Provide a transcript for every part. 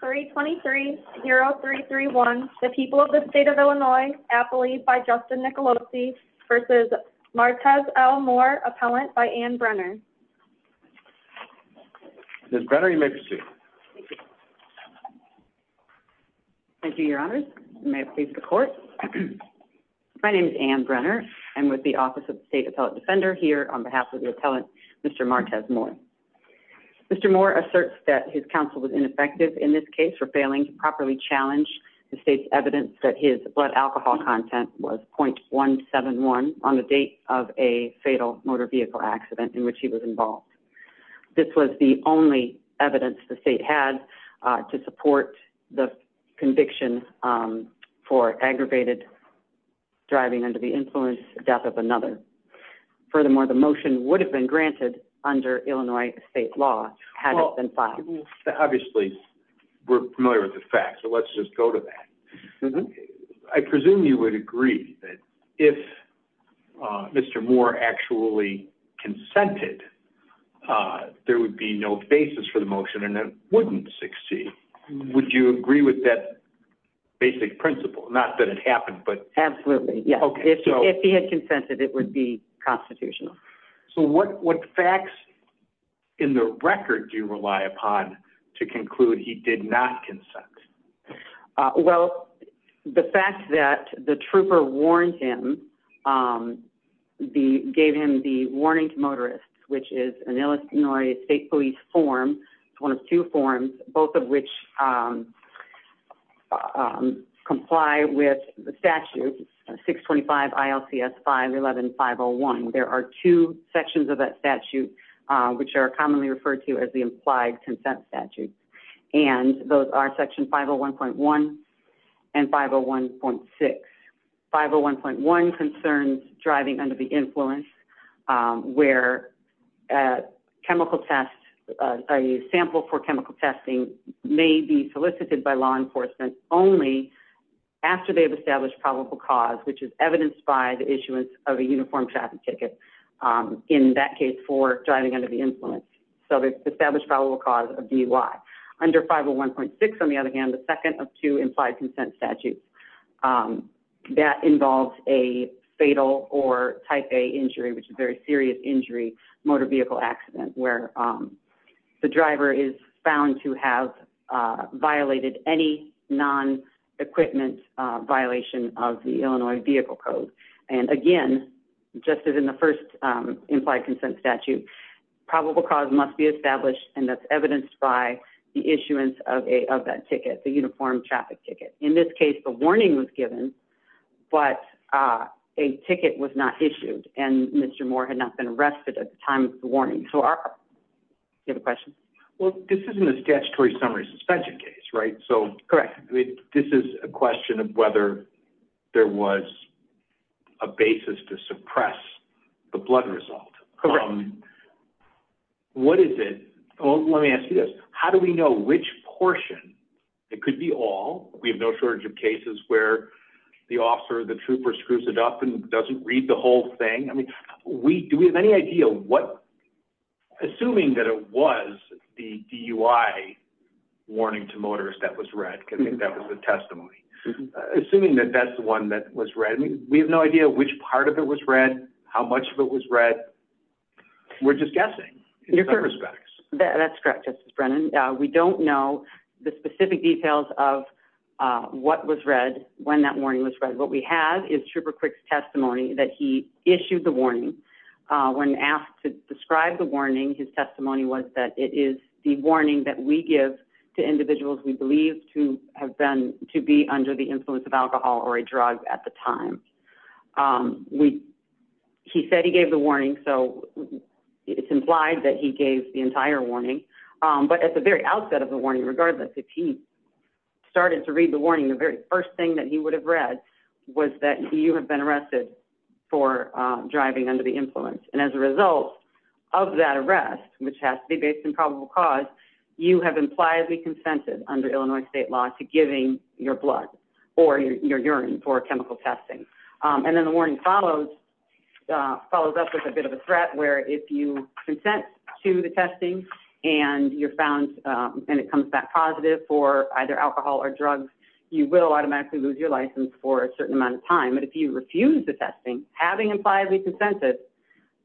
323 0331 the people of the state of Illinois appellee by Justin Nicolosi versus Martez L. Moore, appellant by Ann Brenner. Ms. Brenner, you may proceed. Thank you, your honors. May it please the court. My name is Ann Brenner. I'm with the Office of the State Appellate Defender here on behalf of the appellant, Mr. Martez Moore. Mr. Moore asserts that his counsel was ineffective in this case for failing to properly challenge the state's evidence that his blood alcohol content was 0.171 on the date of a fatal motor vehicle accident in which he was involved. This was the only evidence the state had to support the conviction for aggravated driving under the influence death of another. Furthermore, the motion would have been granted under Illinois state law had it been filed. Obviously, we're familiar with the fact, so let's just go to that. I presume you would agree that if Mr. Moore actually consented, there would be no basis for the motion and it wouldn't succeed. Would you agree with that basic principle? Not that it happened, but Absolutely, yes. If he had consented, it would be constitutional. So what facts in the record do you rely upon to conclude he did not consent? Well, the fact that the trooper warned him, gave him the warning to motorists, which is an Illinois state police form. It's one of two forms, both of which comply with the statute 625 ILCS 511 501. There are two sections of that statute which are commonly referred to as the implied consent statute and those are section 501.1 and 501.6. 501.1 concerns driving under the influence where a chemical test, a sample for chemical testing may be solicited by law enforcement only after they've established probable cause, which is evidenced by the issuance of a uniform traffic ticket, in that case for driving under the influence. So they've established probable cause of DUI. Under 501.6, on the other hand, the second of two implied consent statutes that involves a fatal or type A injury, which is a very serious injury, motor vehicle accident where the driver is found to have violated any non-equipment violation of the Illinois Vehicle Code. And again, just as in the first implied consent statute, probable cause must be established and that's evidenced by the issuance of that ticket, the uniform traffic ticket. In this case, the warning was given but a ticket was not issued and Mr. Moore had not been arrested at the time of the warning. You have a question? Well, this isn't a statutory summary suspension case, right? Correct. This is a question of whether there was a basis to suppress the blood result. What is it? Let me ask you this. How do we know which portion? It could be all. We have no shortage of cases where the officer, the trooper screws it up and doesn't read the whole thing. Do we have any idea what, assuming that it was the DUI warning to motorists that was read, because I think that was the testimony, assuming that that's the one that was read, we have no idea which part of it was read, how much of it was read. We're just guessing in some respects. That's correct, Justice Brennan. We don't know the specific details of what was read when that warning was read. What we have is Trooper Quick's testimony that he issued the warning. When asked to describe the warning, his testimony was that it is the warning that we give to individuals we believe to have been to be under the influence of alcohol or a drug at the time. He said he gave the warning, so it's implied that he gave the entire warning, but at the very outset of the warning, regardless, if he started to read the warning, the very first thing that he would have read was that you have been arrested for driving under the influence, and as a result of that arrest, which has to be based on probable cause, you have impliedly consented under Illinois state law to giving your blood or your urine for chemical testing. Then the warning follows up with a bit of a threat where if you consent to the testing and you're found and it comes back positive for either alcohol or drugs, you will automatically lose your license for a certain amount of time, but if you refuse the testing, having impliedly consented,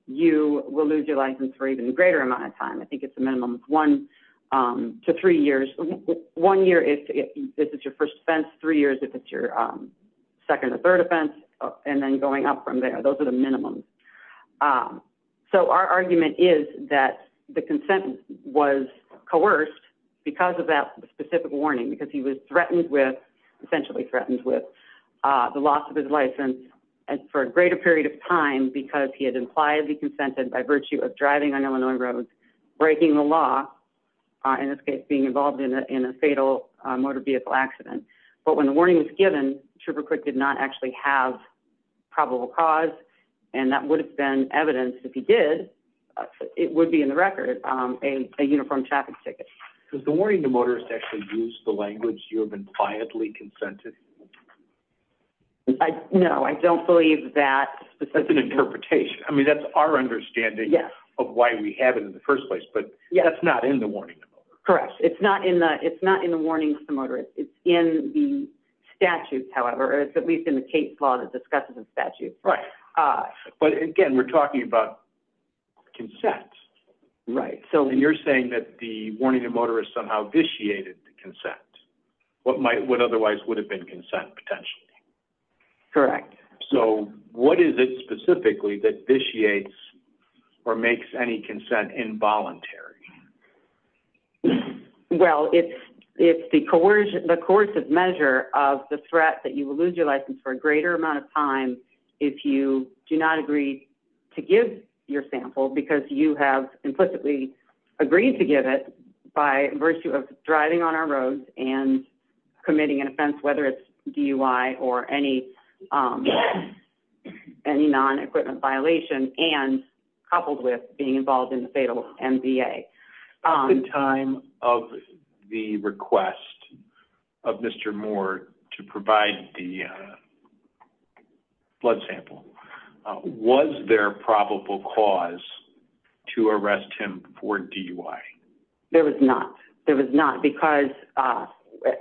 you will lose your license for even a greater amount of time. I think it's a minimum of one to three years. One year if this is your first offense, three years if it's your second or third offense, and then going up from there. Those are the minimums. So our argument is that the consent was coerced because of that specific warning because he was threatened with, essentially threatened with, the loss of his license for a greater period of time because he had impliedly consented by virtue of driving on Illinois roads, breaking the law, in this case being involved in a fatal motor vehicle accident, but when the warning was given, Trooper Quick did not actually have probable cause, and that would have been evidenced if he did. It would be in the record a uniform traffic ticket. Does the warning to motorists actually use the language you have impliedly consented? No, I don't believe that's an interpretation. I mean, that's our understanding of why we have it in the first place, but that's not in the warning. Correct. It's not in the warnings to motorists. It's in the statute, however, or it's at least in the case law that discusses the statute. Right, but again, we're talking about consent. Right. So you're saying that the warning to motorists somehow vitiated the consent. What might, what otherwise would have been consent potentially? Correct. So what is it specifically that vitiates or makes any consent involuntary? Well, it's the coercive measure of the threat that you will lose your license for a greater amount of time if you do not agree to give your sample because you have implicitly agreed to give it by virtue of driving on our roads and committing an offense, whether it's DUI or any non-equipment violation and coupled with being involved in the fatal MVA. At the time of the request of Mr. Moore to provide the blood sample, was there probable cause to arrest him for DUI? There was not. There was not because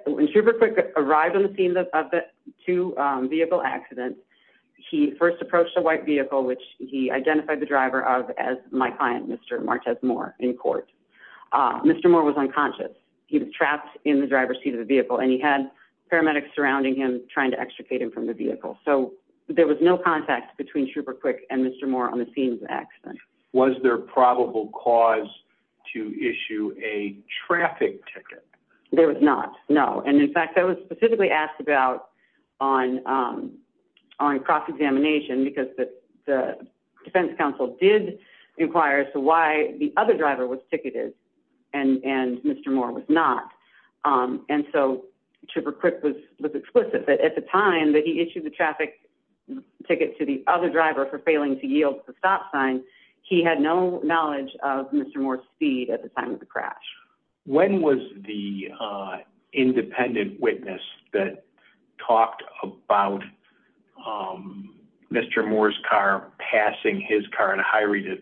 when Schubert arrived on the scene of the two vehicle accidents, he first approached a white vehicle, which he identified the driver of as my client, Mr. Martez Moore, in court. Mr. Moore was unconscious. He was trapped in the driver's seat of the vehicle and he had paramedics surrounding him trying to extricate him from the vehicle. So there was no contact between Schubert Quick and Mr. Moore on the scene of the accident. Was there probable cause to issue a traffic ticket? There was not, no. And in fact, I was specifically asked about on cross-examination because the defense counsel did inquire as to why the other driver was ticketed and Mr. Moore was not. And so Schubert Quick was explicit that at the time that he issued the traffic ticket to the other driver for failing to yield to the stop sign, he had no knowledge of Mr. Moore's speed at the time of the crash. When was the independent witness that talked about Mr. Moore's car passing his car at a high rate of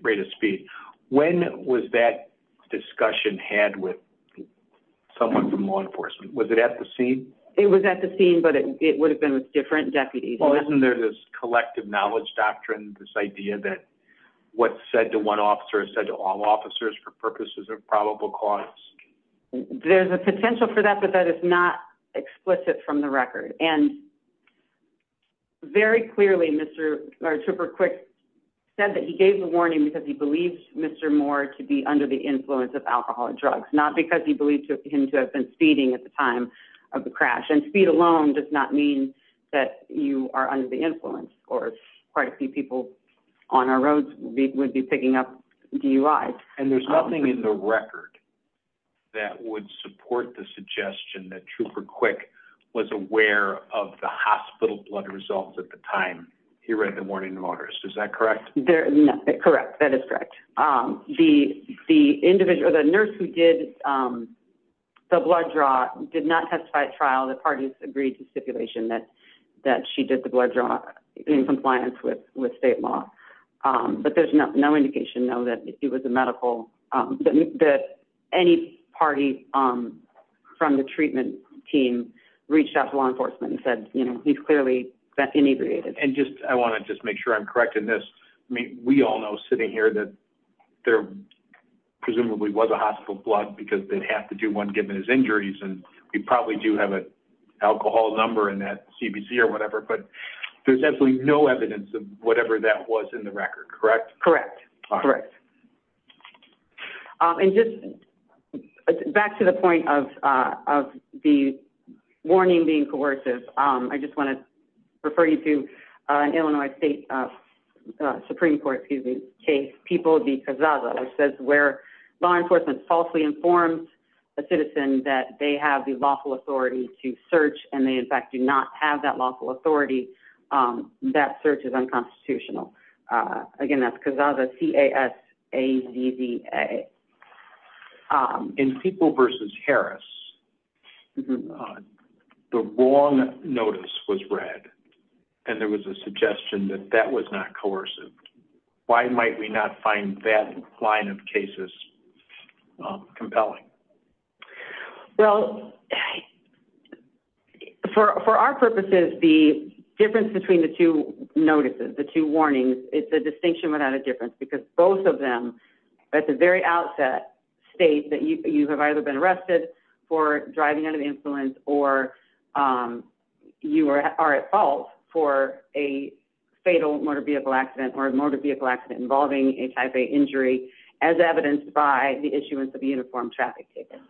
When was that discussion had with someone from law enforcement? Was it at the scene? It was at the scene, but it would have been with different deputies. Well, isn't there this collective knowledge doctrine, this idea that what's said to one officer is said to all officers for purposes of probable cause? There's a potential for that, but that is not explicit from the record. And very clearly, Mr. Schubert Quick said that he gave the warning because he believes Mr. Moore to be under the influence of alcoholic drugs, not because he believed him to have been speeding at the time of the crash. And speed alone does not mean that you are under the influence, or quite a few people on our roads would be picking up DUIs. And there's nothing in the record that would support the suggestion that Schubert Quick was aware of the hospital blood results at the time he read the warning to that is correct. Um, the individual, the nurse who did, um, the blood draw did not testify at trial. The parties agreed to stipulation that that she did the blood draw in compliance with state law. But there's no indication, though, that it was a medical that any party, um, from the treatment team reached out to law enforcement and said, you know, he's clearly that inebriated. And just I want to just make sure I'm correct in this. We all know sitting here that there presumably was a hospital blood because they have to do one given his injuries. And we probably do have a alcohol number in that CBC or whatever. But there's absolutely no evidence of whatever that was in the record. Correct? Correct. Correct. Um, and just back to the point of of the warning being coercive. Um, I just want to refer you to, uh, Illinois State, uh, Supreme Court, excuse me, case people because other says where law enforcement falsely informed a citizen that they have the lawful authority to search, and they, in fact, do not have that lawful authority. Um, that search is unconstitutional. Uh, again, that's because of the C. A. S. A. D. B. A. Um, in people versus Harris, the wrong notice was read, and there was a suggestion that that was not coercive. Why might we not find that line of cases compelling? Well, for for our purposes, the difference between the two notices, the two warnings, it's a distinction without a difference because both of at the very outset state that you have either been arrested for driving out of influence or, um, you are at fault for a fatal motor vehicle accident or motor vehicle accident involving a type A injury, as evidenced by the issuance of uniform traffic table.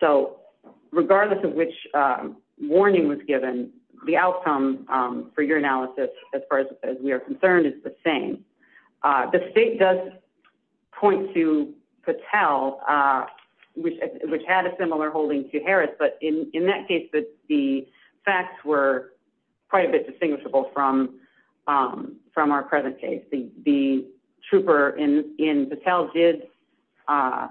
So regardless of which warning was given, the outcome for your analysis, as far as we are concerned, is the same. Uh, the state does point to Patel, uh, which which had a similar holding to Harris. But in that case, the facts were quite a bit distinguishable from, um, from our present case. The trooper in in Patel did, uh,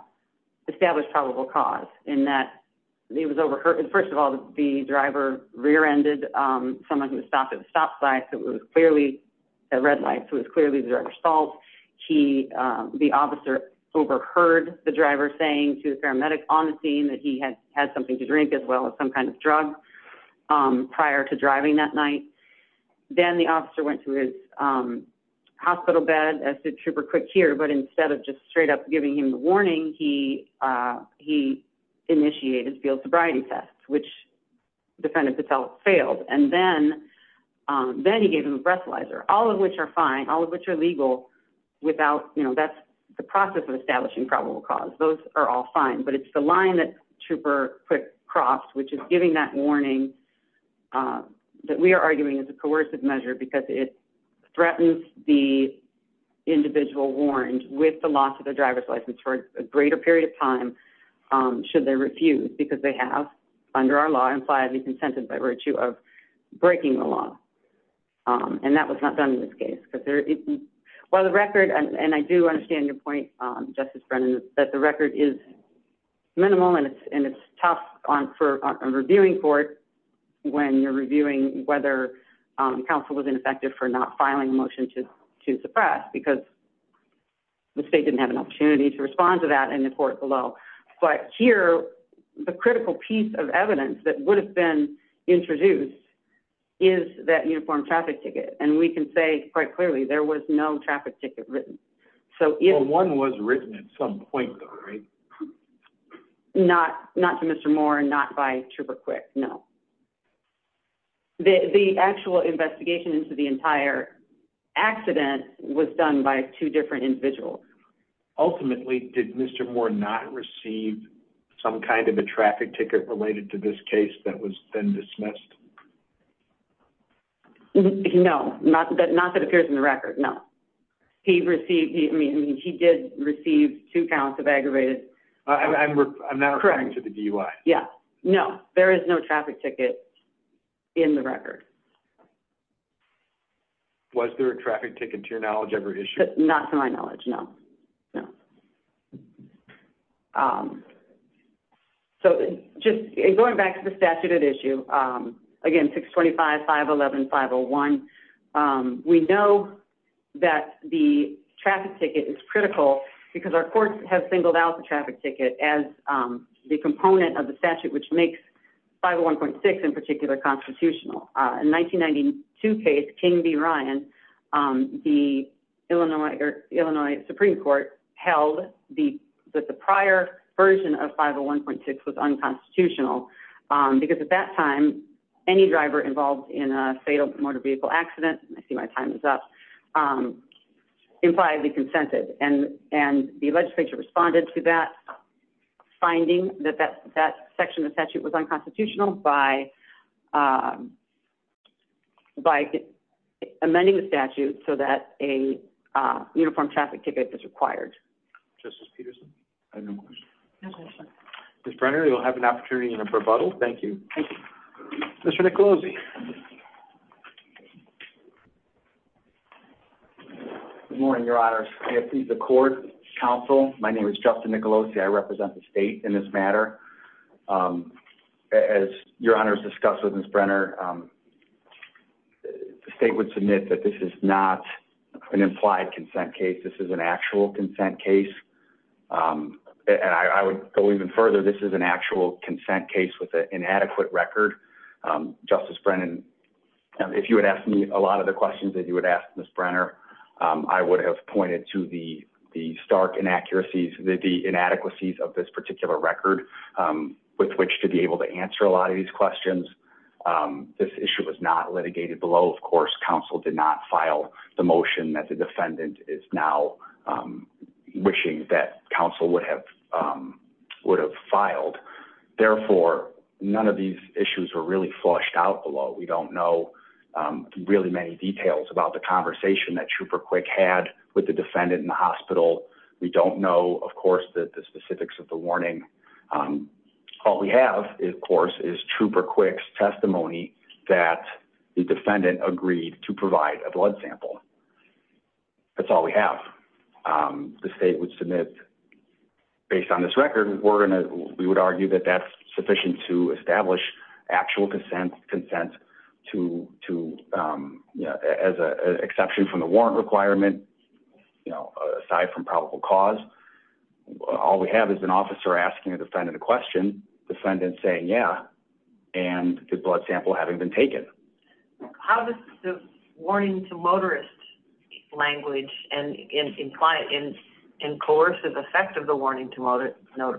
established probable cause in that it was overheard. First of all, the driver rear ended someone who stopped at the stop sign. So it was clearly a red light. So it's clearly the driver's fault. He the officer overheard the driver saying to the paramedic on the scene that he had had something to drink as well as some kind of drug. Um, prior to driving that night, then the officer went to his, um, hospital bed as the trooper quick here. But instead of just straight up giving him the warning, he, uh, he initiated field sobriety tests, which defendant Patel failed. And then, um, then he gave him a breathalyzer, all of which are fine, all of which are legal without, you know, that's the process of establishing probable cause. Those are all fine. But it's the line that trooper quick crossed, which is giving that warning, uh, that we are arguing is a coercive measure because it threatens the individual warned with the loss of the driver's license for a greater period of time. Um, they refused because they have under our law impliedly consented by virtue of breaking the law. Um, and that was not done in this case. But there is while the record and I do understand your point, Justice Brennan, that the record is minimal and it's and it's tough on for reviewing court when you're reviewing whether council was ineffective for not filing motion to suppress because the state didn't have an opportunity to respond to that in court below. But here the critical piece of evidence that would have been introduced is that uniform traffic ticket. And we can say quite clearly there was no traffic ticket written. So if one was written at some point, right, not not to Mr Moore, not by trooper quick. No, the actual investigation into the entire accident was done by two individuals. Ultimately, did Mr Moore not receive some kind of a traffic ticket related to this case that was then dismissed? No, not that. Not that appears in the record. No, he received. I mean, he did receive two counts of aggravated. I'm not referring to the D. Y. Yeah, no, there is no traffic ticket in the record. Was there a traffic ticket to your knowledge ever issued? Not to my knowledge. No, no. So just going back to the statute at issue again, 6 25 5 11 501. We know that the traffic ticket is critical because our courts have singled out the traffic ticket as the component of the statute, which makes 5 1.6 in 1992 case King B. Ryan. Um, the Illinois or Illinois Supreme Court held the that the prior version of 501.6 was unconstitutional because at that time any driver involved in a fatal motor vehicle accident. I see my time is up, um, impliedly consented and and the legislature responded to that finding that that that section of statute was unconstitutional by by amending the statute so that a uniform traffic ticket is required. Justice Peterson. I have no question. Mr Brenner, you'll have an opportunity in a rebuttal. Thank you. Thank you, Mr Nicolosi. Good morning, Your Honor. If he's a court counsel, my name is Justin Nicolosi. I represent the state in this matter. Um, as your honors discussed with his Brenner, um, the state would submit that this is not an implied consent case. This is an actual consent case. Um, and I would go even further. This is an actual consent case with an inadequate record. Um, Justice Brennan, if you would ask me a lot of the questions that you would ask Miss Brenner, I would have pointed to the stark inaccuracies, the inadequacies of this particular record, um, with which to be able to answer a lot of these questions. Um, this issue was not litigated below. Of course, counsel did not file the motion that the defendant is now, um, wishing that counsel would have, um, would have filed. Therefore, none of these issues were really flushed out below. We don't know, um, really many details about the conversation that trooper quick had with the defendant in the hospital. We don't know, of course, that the specifics of the warning, um, all we have, of course, is trooper quick's testimony that the defendant agreed to provide a blood sample. That's all we have. Um, the state would submit based on this record, we're gonna we would argue that that's sufficient to establish actual consent consent to to, um, as a exception from the warrant requirement. You know, aside from probable cause, all we have is an officer asking a defendant a question. Defendant saying, yeah, and the blood sample having been taken. How does the warning to motorist language and imply in in coercive effect of the warning to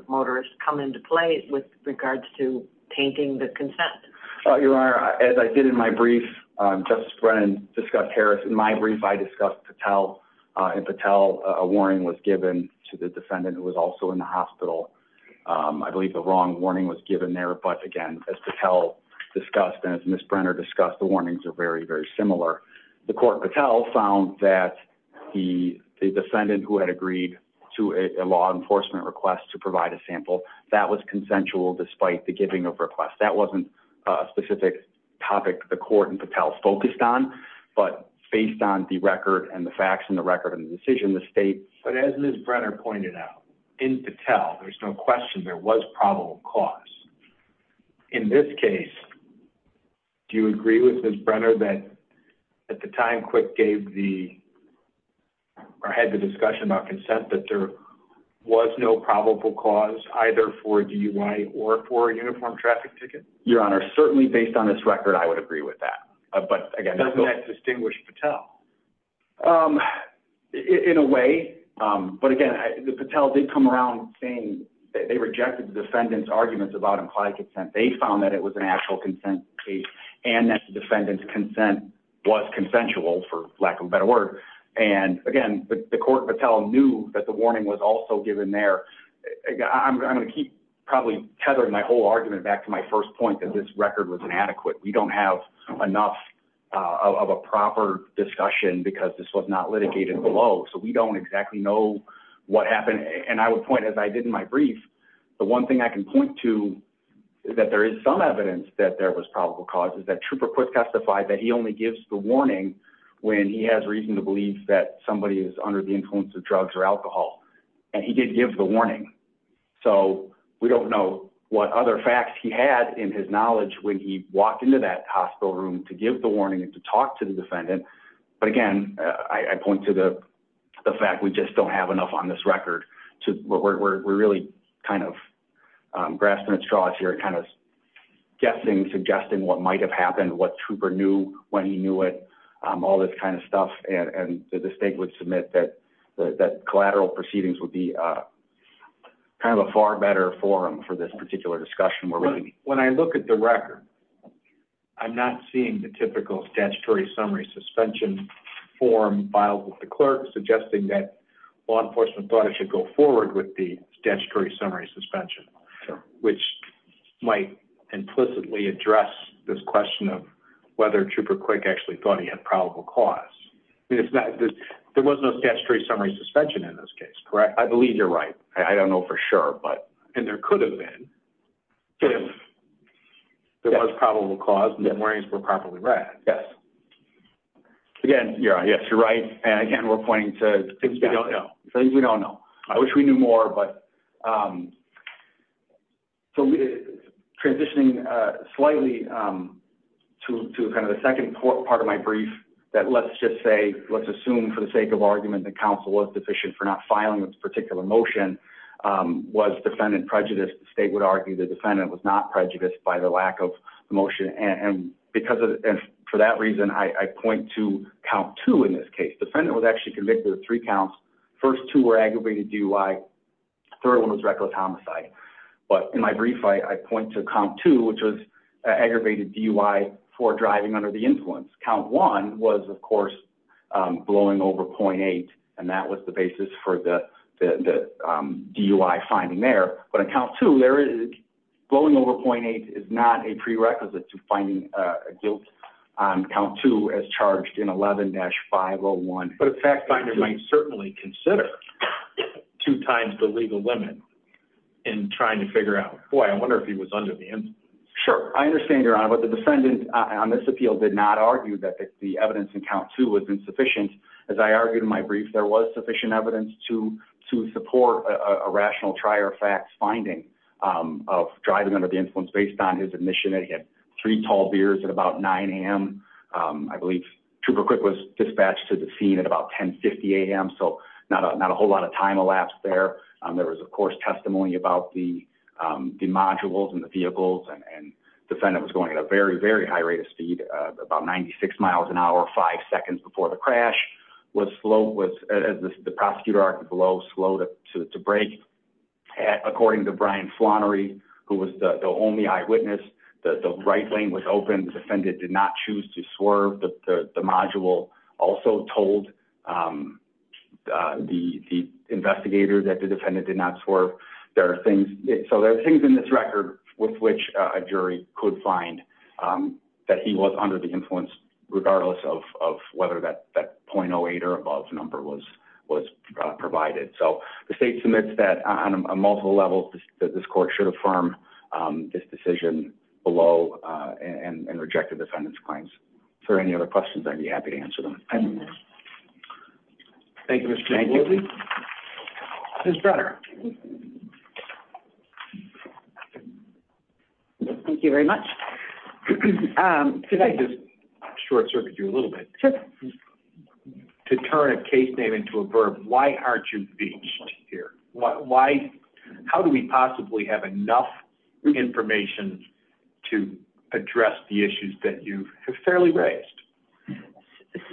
motorist come into play with regards to painting the consent? You are, as I did in my brief, Justice Brennan discussed Harris. In my brief, I discussed to tell, uh, to tell a warning was given to the wrong warning was given there. But again, as to tell discussed as Miss Brenner discussed, the warnings are very, very similar. The court Patel found that the defendant who had agreed to a law enforcement request to provide a sample that was consensual. Despite the giving of request, that wasn't a specific topic. The court and Patel focused on, but based on the record and the facts in the record of the decision, the state. But as Miss cause. In this case, do you agree with this Brenner that at the time quick gave the I had the discussion about consent that there was no probable cause either for D. Y. Or for uniform traffic ticket. Your honor. Certainly based on this record, I would agree with that. But again, that distinguished Patel, um, in a way. But again, the Patel did come around saying they rejected defendants arguments about implied consent. They found that it was an actual consent case and that the defendant's consent was consensual for lack of a better word. And again, the court Patel knew that the warning was also given there. I'm gonna keep probably tethered my whole argument back to my first point that this record was inadequate. We don't have enough of a proper discussion because this was not litigated below, so we don't exactly know what happened. And I would point as I did in my brief. The one thing I can point to that there is some evidence that there was probable causes that trooper quick testified that he only gives the warning when he has reason to believe that somebody is under the influence of drugs or alcohol, and he did give the warning. So we don't know what other facts he had in his knowledge when he walked into that hospital room to give the warning and to talk to the defendant. But again, I point to the fact we just don't have enough on this record. We're really kind of grasping at straws here, kind of guessing, suggesting what might have happened, what trooper knew when he knew it, all this kind of stuff. And the state would submit that collateral proceedings would be kind of a far better forum for this particular discussion. When I look at the record, I'm not seeing the typical statutory summary suspension forum filed with the clerk, suggesting that law enforcement thought it should go forward with the statutory summary suspension, which might implicitly address this question of whether trooper quick actually thought he had probable cause. It's not that there was no statutory summary suspension in this case, correct? I believe you're right. I don't know for sure, but and there could have been there was probable cause. Memories were properly read. Yes. Again, yes, you're right. And again, we're pointing to things we don't know. Things we don't know. I wish we knew more. But, um, so transitioning slightly, um, to kind of the second part of my brief that let's just say, let's assume for the sake of argument that counsel was deficient for not filing this particular motion was defendant prejudice. The state would argue the defendant was not prejudiced by the lack of emotion. And because of for that reason, I point to count two. In this case, defendant was actually convicted of three counts. First two were aggravated. Do I? Third one was reckless homicide. But in my brief, I point to count two, which was aggravated D U I four driving under the influence. Count one was, of course, blowing over 0.8. And that was the basis for the D U I finding there. But account to there is going over 0.8 is not a prerequisite to finding guilt on count to as charged in 11 dash 501. But in fact, finder might certainly consider two times the legal limit in trying to figure out. Boy, I wonder if he was under the end. Sure, I understand your honor. But the defendant on this appeal did not argue that the evidence in count to has been sufficient. As I argued in my brief, there was sufficient evidence to to support a rational try or facts finding off driving under the influence based on his admission that he had three tall beers at about nine a.m. Um, I believe trooper quick was dispatched to the scene at about 10 50 a.m. So not not a whole lot of time elapsed there. There was, of course, testimony about the, um, the modules and the vehicles and defendant was going at a very, very high rate of speed about 96 miles an hour. Five seconds before the crash was slow was the prosecutor article. Oh, slow to break. According to Brian Flannery, who was the only eyewitness, the right lane was open. Defendant did not choose to swerve. The module also told, um, the investigator that the defendant did not swerve. There are things. So there are things in this record with which a jury could find, um, that he was under the influence, regardless of whether that 0.08 or above number was was provided. So the state submits that on a multiple levels that this court should affirm this decision below and rejected defendants claims for any other questions. I'd be happy to answer them. Thank you, Mr. His brother. Mhm. Thank you very much. Um, could I just short circuit you a little bit to turn a case name into a verb? Why aren't you here? Why? How do we possibly have enough information to address the issues that you have fairly raised?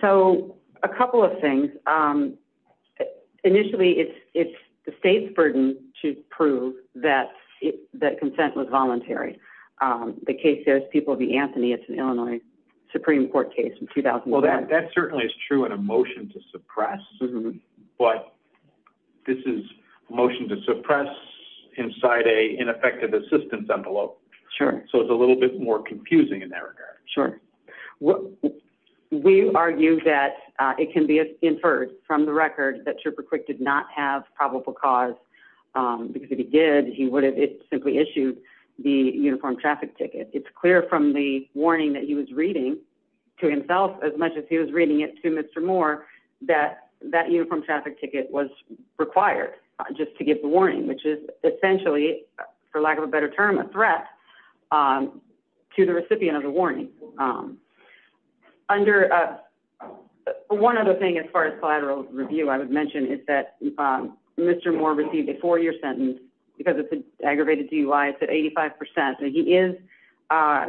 So a couple of things. Um, initially, it's the state's burden to prove that that consent was voluntary. Um, the case there's people be Anthony. It's an Illinois Supreme Court case in 2000. Well, that certainly is true in a motion to suppress. But this is motion to suppress inside a ineffective assistance envelope. Sure. So it's a little bit more confusing in that sure. Well, we argue that it can be inferred from the record that trooper quick did not have probable cause because if he did, he would have simply issued the uniformed traffic ticket. It's clear from the warning that he was reading to himself as much as he was reading it to Mr Moore that that uniformed traffic ticket was required just to give the warning, which is essentially, for lack of a better term, a threat, um, to the recipient of the warning. Um, under one other thing, as far as collateral review, I would mention is that Mr Moore received a four year sentence because it's aggravated. Do you lie? It's at 85%. He is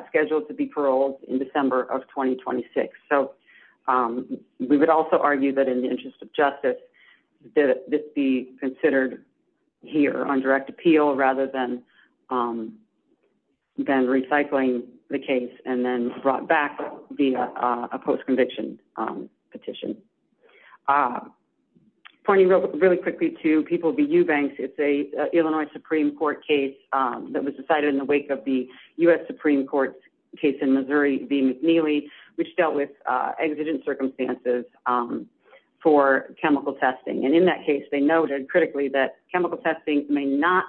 scheduled to be paroled in December of 2026. So, um, we would also argue that in the interest of justice, this be considered here on direct appeal rather than, um, than recycling the case and then brought back via a post conviction petition. Uh, pointing really quickly to people be you banks. It's a Illinois Supreme Court case that was decided in the wake of the U. S. Supreme Court case in the McNeely, which dealt with exigent circumstances, um, for chemical testing. And in that case, they noted critically that chemical testing may not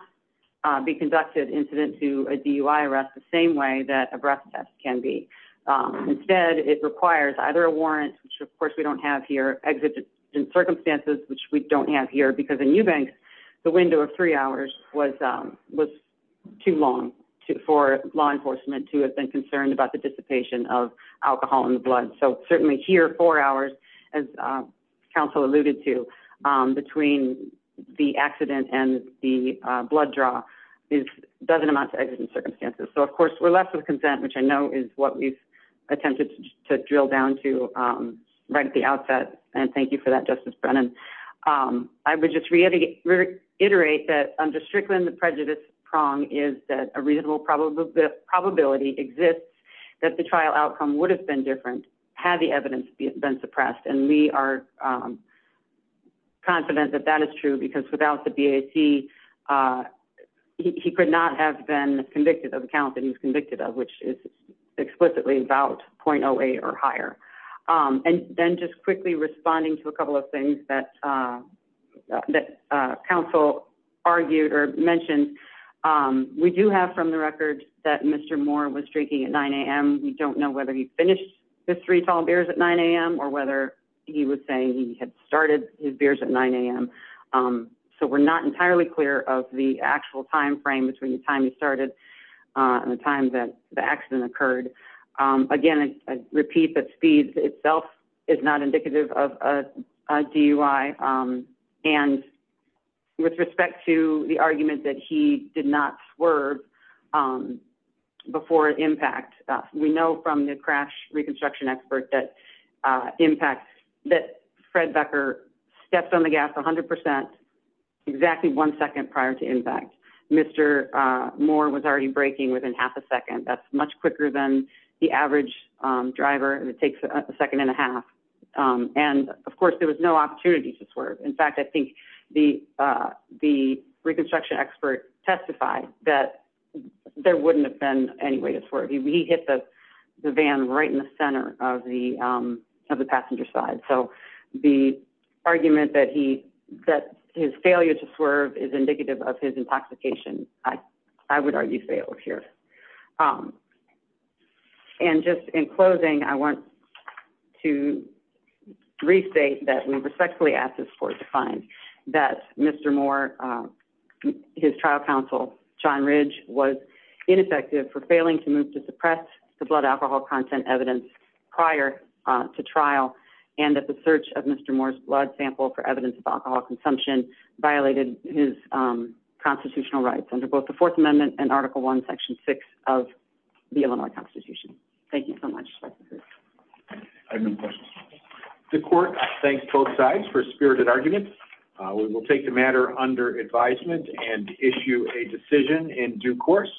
be conducted incident to a DUI arrest the same way that a breath test can be. Um, instead, it requires either a warrant, which, of course, we don't have here exited in circumstances which we don't have here because the new bank, the window of three hours was, um, was too long for law enforcement to have been concerned about the dissipation of alcohol in the blood. So certainly here, four hours as, uh, counsel alluded to, um, between the accident and the blood draw is doesn't amount to exigent circumstances. So, of course, we're left with consent, which I know is what we've attempted to drill down to, um, right at the outset. And thank you for that, Justice Brennan. Um, I would just reiterate that I'm just saying that the reasonable probability probability exists that the trial outcome would have been different had the evidence been suppressed. And we are, um, confident that that is true, because without the B. A. T. Uh, he could not have been convicted of account that he's convicted of, which is explicitly about point away or higher. Um, and then just quickly responding to a couple of things that, uh, that, uh, counsel argued or mentioned. Um, we do have from the record that Mr Moore was drinking at nine a.m. We don't know whether he finished the three tall bears at nine a.m. or whether he was saying he had started his beers at nine a.m. Um, so we're not entirely clear of the actual time frame between the time he started, uh, the time that the accident occurred. Um, again, I repeat that speed itself is not indicative of a D. U. I. Um, and with respect to the argument that he did not swerve, um, before impact, we know from the crash reconstruction expert that, uh, impact that Fred Becker steps on the gas 100% exactly one second prior to impact. Mr Moore was already breaking within half a second. That's much quicker than the average driver. It takes a second and a half. Um, and, of course, there was no opportunity to In fact, I think the reconstruction expert testified that there wouldn't have been any way to swerve. He hit the van right in the center of the of the passenger side. So the argument that he that his failure to swerve is indicative of his intoxication. I would argue failed here. Um, and just in closing, I want to restate that we respectfully ask this court to find that Mr Moore, uh, his trial counsel John Ridge was ineffective for failing to move to suppress the blood alcohol content evidence prior to trial and at the search of Mr Moore's blood sample for evidence of alcohol consumption violated his constitutional rights under both the Fourth Amendment and Article one, Section six of the Illinois Constitution. Thank you so much. The court thanks both sides for spirited arguments. We will take the matter under advisement and issue a decision in due course.